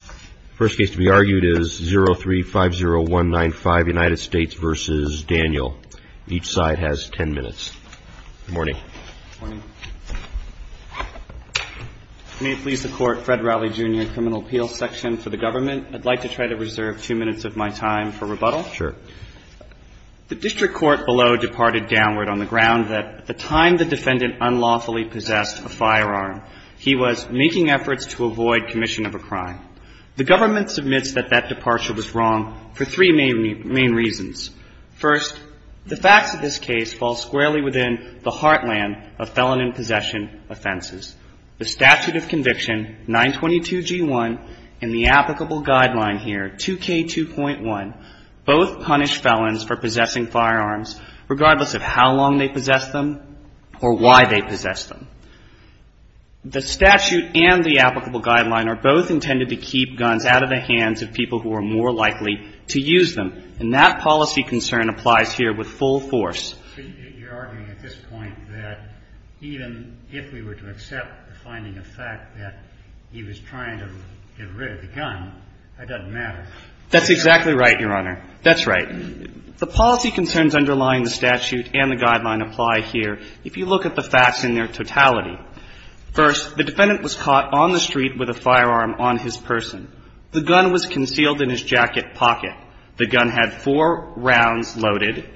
The first case to be argued is 03-50195, United States v. Daniel. Each side has ten minutes. Good morning. Good morning. May it please the Court, Fred Rowley, Jr., Criminal Appeals Section for the Government. I'd like to try to reserve two minutes of my time for rebuttal. Sure. The district court below departed downward on the ground that at the time the defendant unlawfully possessed a firearm, he was making efforts to avoid commission of a crime. The government submits that that departure was wrong for three main reasons. First, the facts of this case fall squarely within the heartland of felon in possession offenses. The statute of conviction, 922G1, and the applicable guideline here, 2K2.1, both punish felons for possessing firearms regardless of how long they possess them or why they possess them. The statute and the applicable guideline are both intended to keep guns out of the hands of people who are more likely to use them. And that policy concern applies here with full force. So you're arguing at this point that even if we were to accept the finding of fact that he was trying to get rid of the gun, that doesn't matter? That's exactly right, Your Honor. That's right. The policy concerns underlying the statute and the guideline apply here if you look at the facts in their totality. First, the defendant was caught on the street with a firearm on his person. The gun was concealed in his jacket pocket. The gun had four rounds loaded.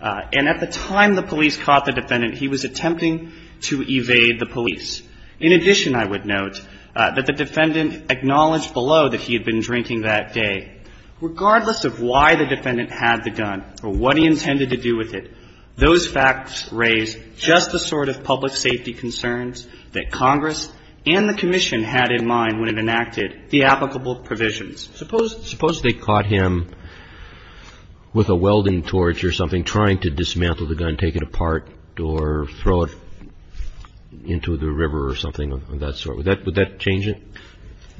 And at the time the police caught the defendant, he was attempting to evade the police. In addition, I would note that the defendant acknowledged below that he had been drinking that day. Regardless of why the defendant had the gun or what he intended to do with it, those facts raise just the sort of public safety concerns that Congress and the Commission had in mind when it enacted the applicable provisions. Suppose they caught him with a welding torch or something trying to dismantle the gun, take it apart or throw it into the river or something of that sort. Would that change it?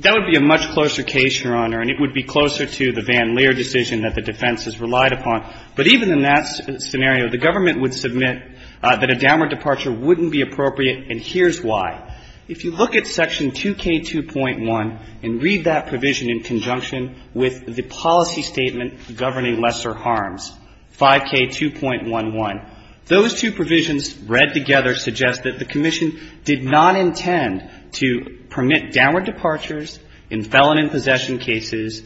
That would be a much closer case, Your Honor, and it would be closer to the Van Leer decision that the defense has relied upon. But even in that scenario, the government would submit that a downward departure wouldn't be appropriate, and here's why. If you look at Section 2K2.1 and read that provision in conjunction with the policy statement governing lesser harms, 5K2.11, those two provisions read together suggest that the Commission did not intend to permit downward departures in felon and possession cases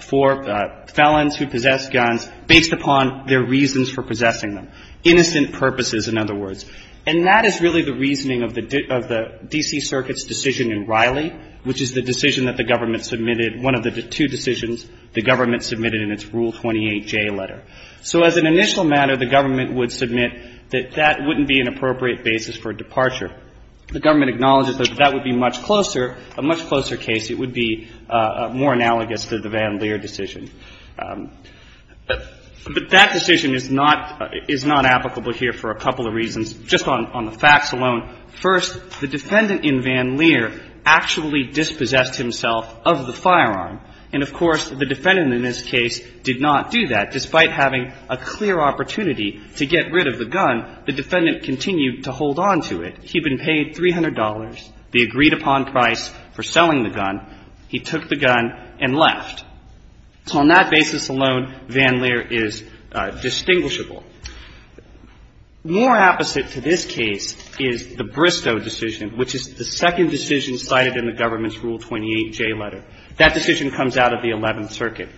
for felons who possess guns based upon their reasons for possessing them, innocent purposes, in other words. And that is really the reasoning of the D.C. Circuit's decision in Riley, which is the decision that the government submitted, one of the two decisions the government submitted in its Rule 28J letter. So as an initial matter, the government would submit that that wouldn't be an appropriate basis for a departure. The government acknowledges that that would be much closer, a much closer case. It would be more analogous to the Van Leer decision. But that decision is not applicable here for a couple of reasons, just on the facts alone. First, the defendant in Van Leer actually dispossessed himself of the firearm. And, of course, the defendant in this case did not do that. Despite having a clear opportunity to get rid of the gun, the defendant continued to hold on to it. He had been paid $300, the agreed-upon price for selling the gun. He took the gun and left. So on that basis alone, Van Leer is distinguishable. More opposite to this case is the Bristow decision, which is the second decision cited in the government's Rule 28J letter. That decision comes out of the Eleventh Circuit.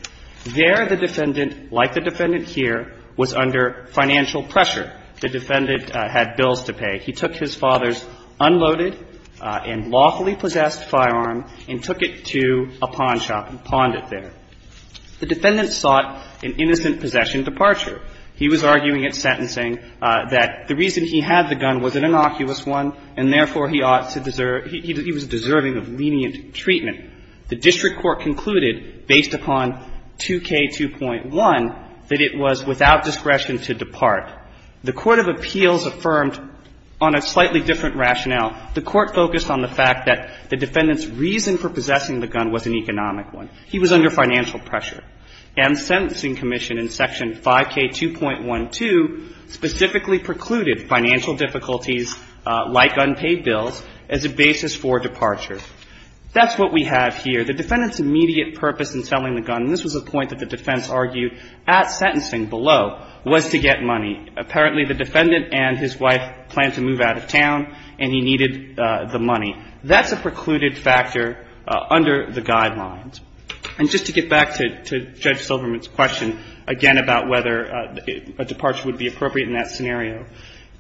There, the defendant, like the defendant here, was under financial pressure. The defendant had bills to pay. He took his father's unloaded and lawfully-possessed firearm and took it to a pawn shop and pawned it there. The defendant sought an innocent possession departure. He was arguing at sentencing that the reason he had the gun was an innocuous one, and therefore, he ought to deserve – he was deserving of lenient treatment. The district court concluded, based upon 2K2.1, that it was without discretion to depart. The court of appeals affirmed on a slightly different rationale. The court focused on the fact that the defendant's reason for possessing the gun was an economic one. He was under financial pressure. And sentencing commission in Section 5K2.12 specifically precluded financial difficulties like unpaid bills as a basis for departure. That's what we have here. The defendant's immediate purpose in selling the gun, and this was a point that the defense argued at sentencing below, was to get money. Apparently, the defendant and his wife planned to move out of town, and he needed the money. That's a precluded factor under the guidelines. And just to get back to Judge Silverman's question, again, about whether a departure would be appropriate in that scenario,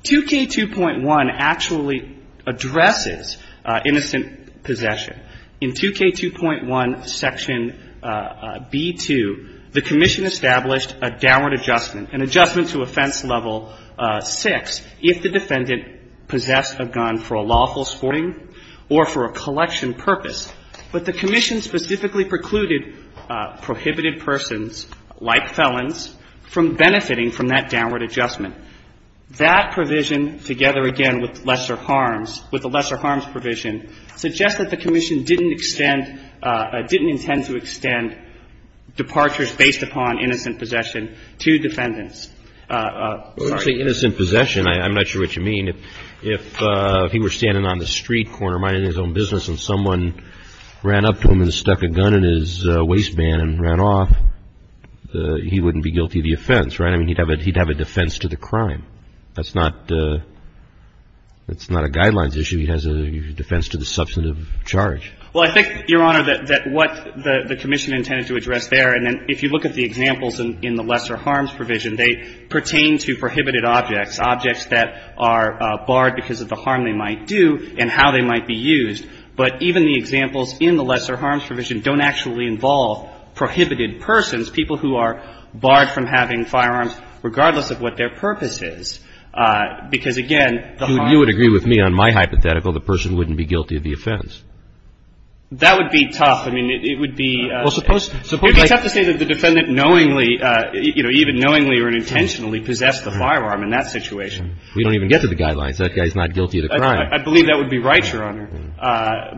2K2.1 actually addresses innocent possession In 2K2.1, Section B.2, the commission established a downward adjustment, an adjustment to offense level six, if the defendant possessed a gun for a lawful sporting or for a collection purpose. But the commission specifically precluded prohibited persons, like felons, from benefiting from that downward adjustment. That provision, together again with lesser harms, with the lesser harms provision, suggests that the commission didn't extend, didn't intend to extend departures based upon innocent possession to defendants. I'm sorry. Well, actually, innocent possession, I'm not sure what you mean. If he were standing on the street corner minding his own business and someone ran up to him and stuck a gun in his waistband and ran off, he wouldn't be guilty of the offense, right? I mean, he'd have a defense to the crime. That's not a guidelines issue. He has a defense to the substantive charge. Well, I think, Your Honor, that what the commission intended to address there, and if you look at the examples in the lesser harms provision, they pertain to prohibited objects, objects that are barred because of the harm they might do and how they might be used. But even the examples in the lesser harms provision don't actually involve prohibited persons, people who are barred from having firearms regardless of what their purpose is, because, again, the harm. You would agree with me on my hypothetical, the person wouldn't be guilty of the offense. That would be tough. I mean, it would be – Well, suppose – You'd just have to say that the defendant knowingly, you know, even knowingly or intentionally possessed the firearm in that situation. We don't even get to the guidelines. That guy's not guilty of the crime. I believe that would be right, Your Honor.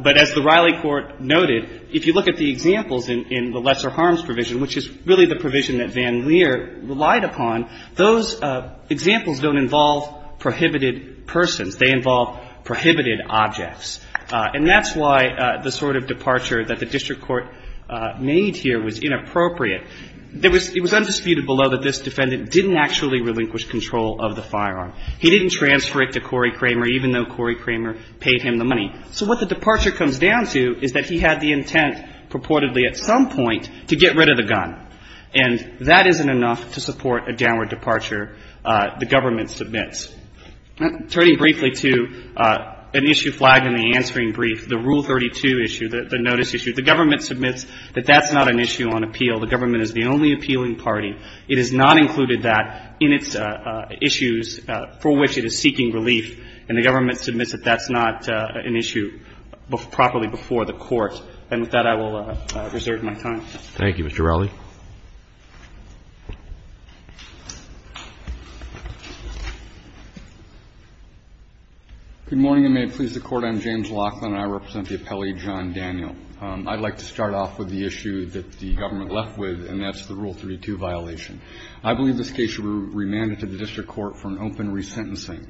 But as the Riley Court noted, if you look at the examples in the lesser harms provision, which is really the provision that Van Leer relied upon, those examples don't involve prohibited persons. They involve prohibited objects. And that's why the sort of departure that the district court made here was inappropriate. It was undisputed below that this defendant didn't actually relinquish control of the firearm. He didn't transfer it to Corey Kramer, even though Corey Kramer paid him the money. So what the departure comes down to is that he had the intent, purportedly at some point, to get rid of the gun. And that isn't enough to support a downward departure the government submits. Turning briefly to an issue flagged in the answering brief, the Rule 32 issue, the notice issue, the government submits that that's not an issue on appeal. The government is the only appealing party. It has not included that in its issues for which it is seeking relief. And the government submits that that's not an issue properly before the court. And with that, I will reserve my time. Thank you, Mr. Rowley. Good morning, and may it please the Court. I'm James Laughlin, and I represent the appellee John Daniel. I'd like to start off with the issue that the government left with, and that's the Rule 32 violation. I believe this case should be remanded to the district court for an open resentencing.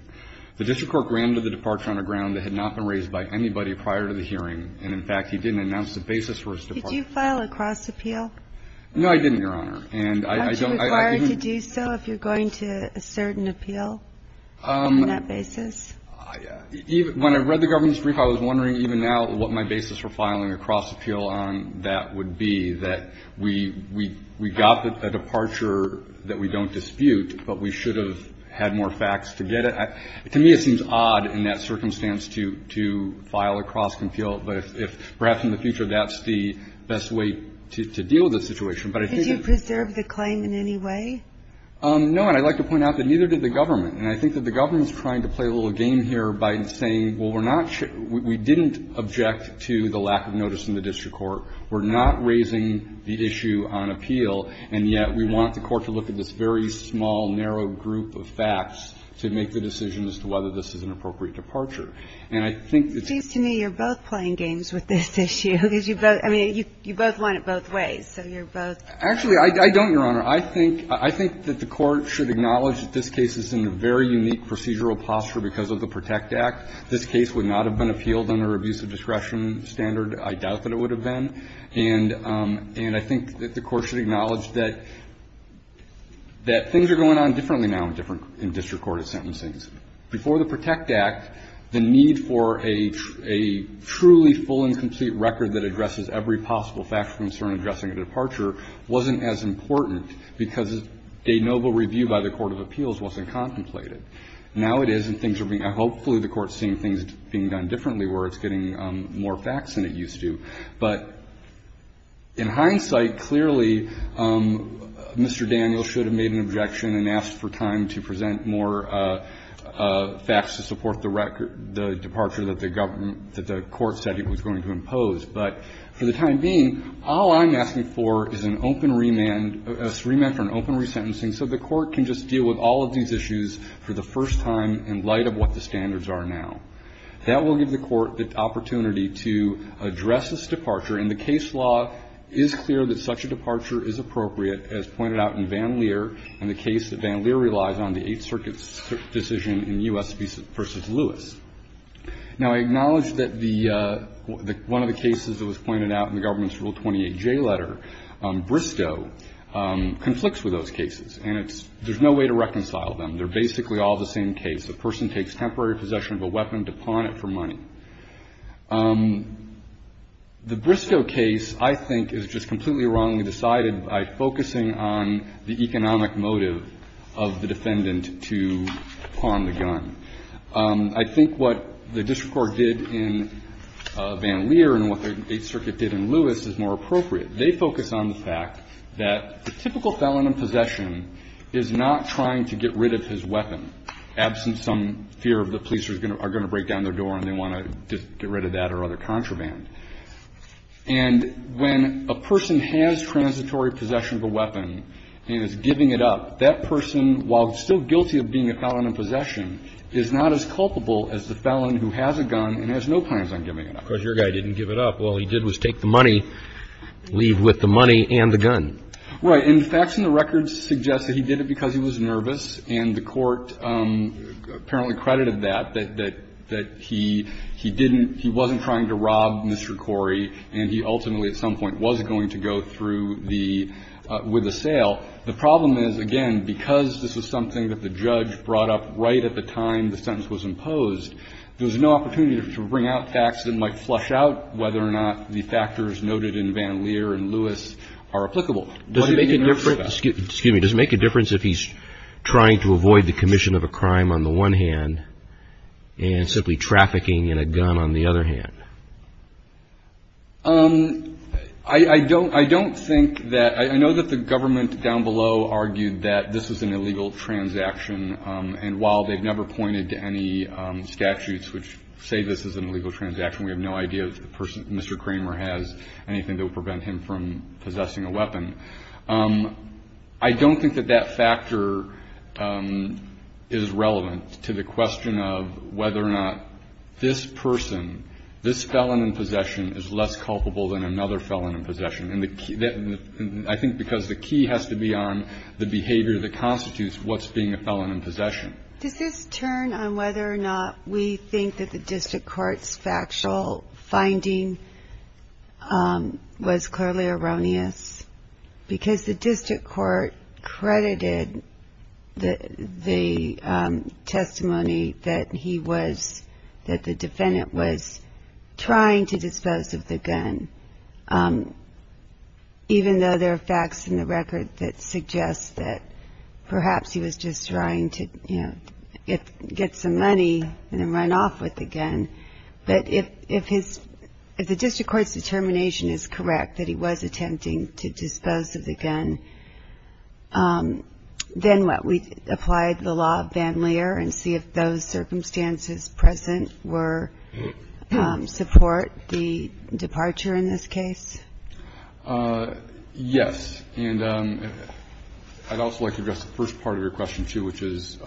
The district court granted the departure on a ground that had not been raised by anybody prior to the hearing. And, in fact, he didn't announce the basis for his departure. Did you file a cross-appeal? No, I didn't, Your Honor. Aren't you required to do so if you're going to assert an appeal on that basis? When I read the government's brief, I was wondering even now what my basis for filing a cross-appeal on that would be, that we got a departure that we don't dispute, but we should have had more facts to get it. To me, it seems odd in that circumstance to file a cross-appeal. But if, perhaps in the future, that's the best way to deal with the situation. But I think that's the case. Did you preserve the claim in any way? No. And I'd like to point out that neither did the government. And I think that the government's trying to play a little game here by saying, well, we're not we didn't object to the lack of notice in the district court. We're not raising the issue on appeal, and yet we want the court to look at this very small, narrow group of facts to make the decision as to whether this is an appropriate departure. And I think that's the case. And I think that the court should acknowledge that this case is in a very unique procedural posture because of the PROTECT Act. This case would not have been appealed under abusive discretion standard. I doubt that it would have been. And I think that the court should acknowledge that things are going on differently now in district court sentencing. The really full and complete record that addresses every possible fact of concern addressing a departure wasn't as important because a noble review by the court of appeals wasn't contemplated. Now it is, and things are being – hopefully the court is seeing things being done differently where it's getting more facts than it used to. But in hindsight, clearly Mr. Daniels should have made an objection and asked for time to present more facts to support the record – the departure that the government – that the court said it was going to impose. But for the time being, all I'm asking for is an open remand – a remand for an open resentencing so the court can just deal with all of these issues for the first time in light of what the standards are now. That will give the court the opportunity to address this departure. And the case law is clear that such a departure is appropriate, as pointed out in Van Leer and the case that Van Leer relies on, the Eighth Circuit's decision in U.S. v. Lewis. Now, I acknowledge that the – one of the cases that was pointed out in the government's Rule 28J letter, Bristow, conflicts with those cases, and it's – there's no way to reconcile them. They're basically all the same case. The person takes temporary possession of a weapon to pawn it for money. The Bristow case, I think, is just completely wrongly decided by focusing on the economic motive of the defendant to pawn the gun. I think what the district court did in Van Leer and what the Eighth Circuit did in Lewis is more appropriate. They focus on the fact that the typical felon in possession is not trying to get rid of his weapon, absent some fear of the police are going to break down their door and they want to just get rid of that or other contraband. And when a person has transitory possession of a weapon and is giving it up, that person, while still guilty of being a felon in possession, is not as culpable as the felon who has a gun and has no plans on giving it up. Because your guy didn't give it up. All he did was take the money, leave with the money and the gun. Right. And facts in the records suggest that he did it because he was nervous, and the court apparently credited that, that he didn't – he wasn't trying to rob Mr. Corey, and he ultimately at some point was going to go through the – with the sale. The problem is, again, because this was something that the judge brought up right at the time the sentence was imposed, there was no opportunity to bring out facts that might flush out whether or not the factors noted in Van Leer and Lewis are applicable. Does it make a difference – excuse me. Does it make a difference if he's trying to avoid the commission of a crime on the one hand and simply trafficking in a gun on the other hand? I don't – I don't think that – I know that the government down below argued that this was an illegal transaction, and while they've never pointed to any statutes which say this is an illegal transaction, we have no idea if Mr. Kramer has anything that would prevent him from possessing a weapon. I don't think that that factor is relevant to the question of whether or not this person, this felon in possession, is less culpable than another felon in possession. And the – I think because the key has to be on the behavior that constitutes what's being a felon in possession. Does this turn on whether or not we think that the district court's factual finding was clearly erroneous? Because the district court credited the testimony that he was – that the defendant was trying to dispose of the gun, even though there are facts in the record that suggest that perhaps he was just trying to get some money and then run off with the gun. But if his – if the district court's determination is correct that he was attempting to dispose of the gun, then what? We apply the law of Van Leer and see if those circumstances present were – support the departure in this case? Yes. And I'd also like to address the first part of your question, too, which is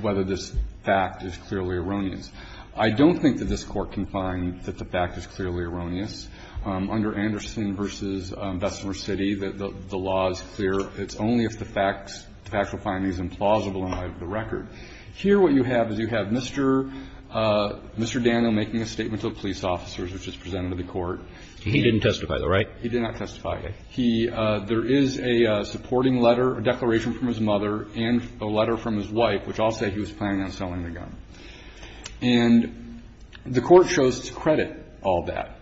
whether this fact is clearly erroneous. I don't think that this Court can find that the fact is clearly erroneous. Under Anderson v. Bessemer City, the law is clear. It's only if the facts – the factual findings are implausible in light of the record. Here what you have is you have Mr. Daniel making a statement to the police officers, which is presented to the Court. He didn't testify, though, right? He did not testify. He – there is a supporting letter, a declaration from his mother and a letter from his wife, which all say he was planning on selling the gun. And the Court chose to credit all that.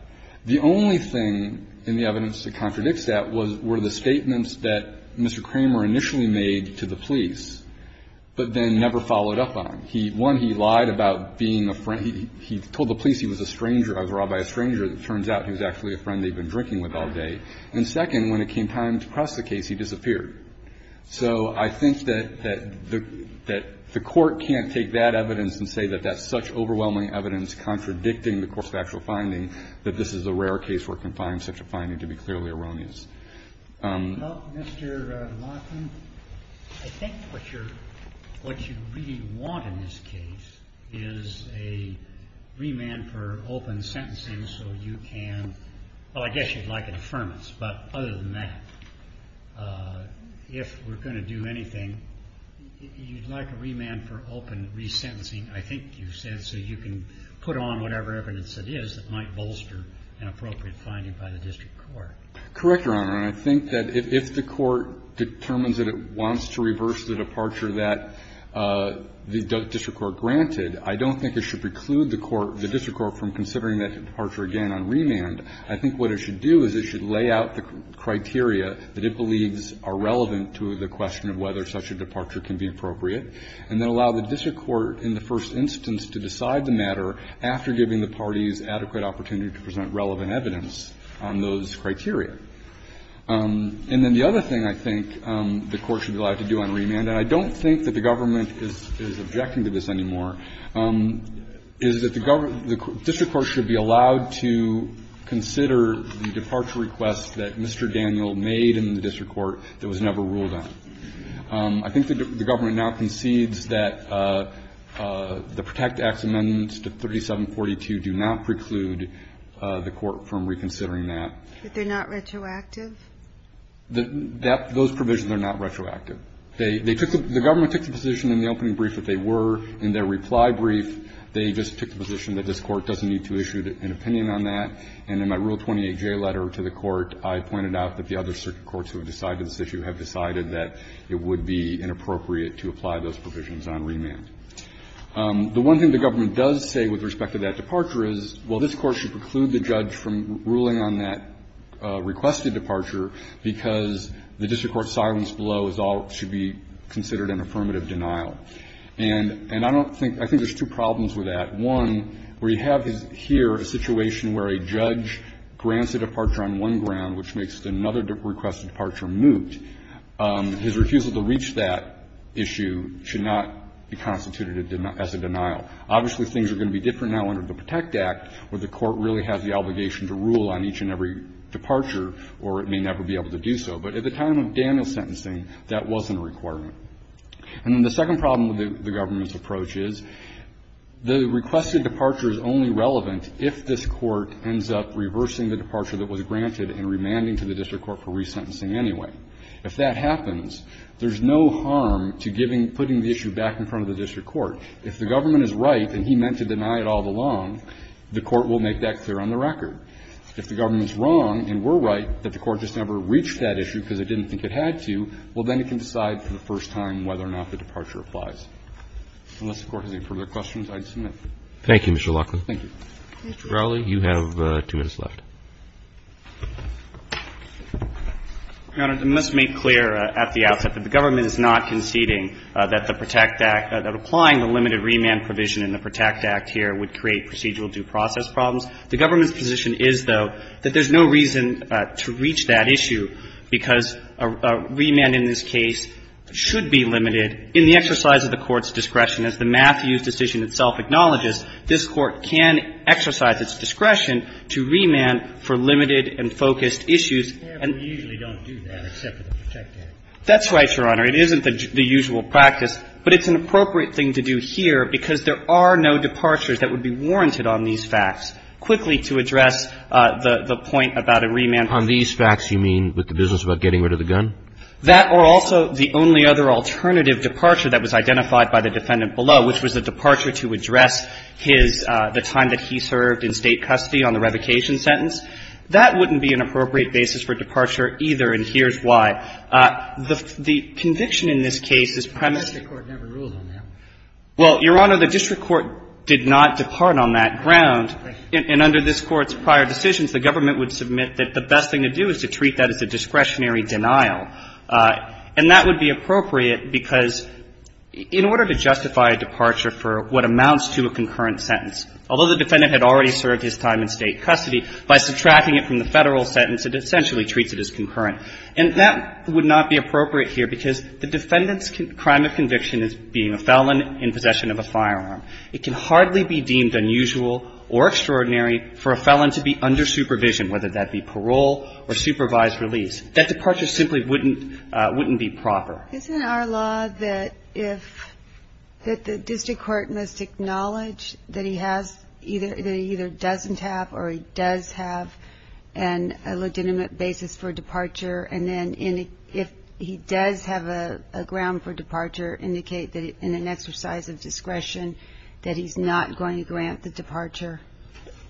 The only thing in the evidence that contradicts that was – were the statements that Mr. Kramer initially made to the police, but then never followed up on. He – one, he lied about being a friend. He told the police he was a stranger. I was robbed by a stranger. It turns out he was actually a friend they'd been drinking with all day. And second, when it came time to press the case, he disappeared. So I think that the – that the Court can't take that evidence and say that that's such overwhelming evidence contradicting the course of actual finding that this is a rare case where it can find such a finding to be clearly erroneous. Well, Mr. Lawson, I think what you're – what you really want in this case is a remand for open sentencing so you can – well, I guess you'd like an affirmance, but other than that, if we're going to do anything, you'd like a remand for open resentencing, I think you said, so you can put on whatever evidence it is that might bolster an appropriate finding by the district court. Correct, Your Honor. And I think that if the Court determines that it wants to reverse the departure that the district court granted, I don't think it should preclude the court – the court should allow the district court to decide whether to present relevant evidence on the matter that it believes are relevant to the question of whether such a departure can be appropriate, and then allow the district court in the first instance to decide the matter after giving the parties adequate opportunity to present relevant evidence on those criteria. And then the other thing I think the Court should be allowed to do on remand, and I don't think that the government is – is objecting to this anymore, is that the district court should be allowed to consider the departure request that Mr. Daniel made in the district court that was never ruled on. I think the government now concedes that the Protect Acts amendments to 3742 do not preclude the court from reconsidering that. But they're not retroactive? Those provisions are not retroactive. They – they took the – the government took the position in the opening brief that they were. In their reply brief, they just took the position that this Court doesn't need to issue an opinion on that. And in my Rule 28J letter to the Court, I pointed out that the other circuit courts who have decided this issue have decided that it would be inappropriate to apply those provisions on remand. The one thing the government does say with respect to that departure is, well, this Court should preclude the judge from ruling on that requested departure because the district court's silence below is all – should be considered an affirmative denial. And – and I don't think – I think there's two problems with that. One, where you have here a situation where a judge grants a departure on one ground, which makes another requested departure moot, his refusal to reach that issue should not be constituted as a denial. Obviously, things are going to be different now under the Protect Act, where the Court really has the obligation to rule on each and every departure, or it may never be able to do so. But at the time of Daniel's sentencing, that wasn't a requirement. And then the second problem with the government's approach is, the requested departure is only relevant if this Court ends up reversing the departure that was granted and remanding to the district court for resentencing anyway. If that happens, there's no harm to giving – putting the issue back in front of the district court. If the government is right and he meant to deny it all along, the Court will make that clear on the record. If the government's wrong and we're right that the Court just never reached that issue because it didn't think it had to, well, then it can decide for the first time whether or not the departure applies. Unless the Court has any further questions, I'd submit. Thank you, Mr. Laughlin. Laughlin. Thank you. Roberts. Mr. Crowley, you have two minutes left. Crowley. Your Honor, I must make clear at the outset that the government is not conceding that the Protect Act – that applying the limited remand provision in the Protect Act here would create procedural due process problems. The government's position is, though, that there's no reason to reach that issue because a remand in this case should be limited. In the exercise of the Court's discretion, as the Matthews decision itself acknowledges, this Court can exercise its discretion to remand for limited and focused issues. And we usually don't do that except with the Protect Act. That's right, Your Honor. It isn't the usual practice, but it's an appropriate thing to do here because there are no departures that would be warranted on these facts. Quickly, to address the point about a remand provision. On these facts, you mean with the business about getting rid of the gun? That or also the only other alternative departure that was identified by the defendant below, which was the departure to address his – the time that he served in State custody on the revocation sentence. That wouldn't be an appropriate basis for departure either, and here's why. The conviction in this case is premised – The district court never ruled on that. Well, Your Honor, the district court did not depart on that ground. And under this Court's prior decisions, the government would submit that the best thing to do is to treat that as a discretionary denial. And that would be appropriate because in order to justify a departure for what amounts to a concurrent sentence, although the defendant had already served his time in State custody, by subtracting it from the Federal sentence, it essentially treats it as concurrent. And that would not be appropriate here because the defendant's crime of conviction is being a felon in possession of a firearm. It can hardly be deemed unusual or extraordinary for a felon to be under supervision, whether that be parole or supervised release. That departure simply wouldn't – wouldn't be proper. Isn't it our law that if – that the district court must acknowledge that he has – that he either doesn't have or he does have a legitimate basis for departure, and then if he does have a ground for departure, indicate that in an exercise of discretion that he's not going to grant the departure?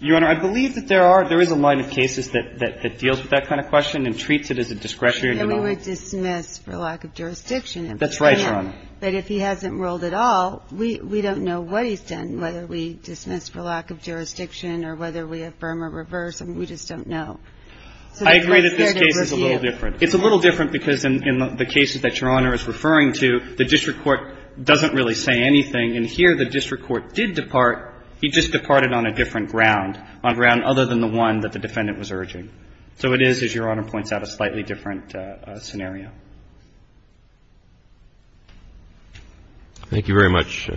Your Honor, I believe that there are – there is a line of cases that – that deals with that kind of question and treats it as a discretionary denial. And we would dismiss for lack of jurisdiction. That's right, Your Honor. But if he hasn't ruled at all, we – we don't know what he's done, whether we dismiss for lack of jurisdiction or whether we affirm or reverse. I mean, we just don't know. I agree that this case is a little different. It's a little different because in the cases that Your Honor is referring to, the district court did depart. He just departed on a different ground, on ground other than the one that the defendant was urging. So it is, as Your Honor points out, a slightly different scenario. Thank you very much,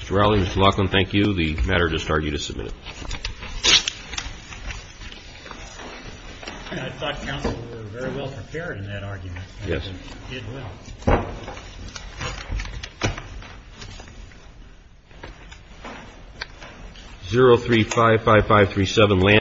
Mr. Rowley. Mr. Laughlin, thank you. The matter does start you to submit it. I thought counsel were very well prepared in that argument. Yes. Thank you, Mr. Laughlin. You did well. 0355537 Landy.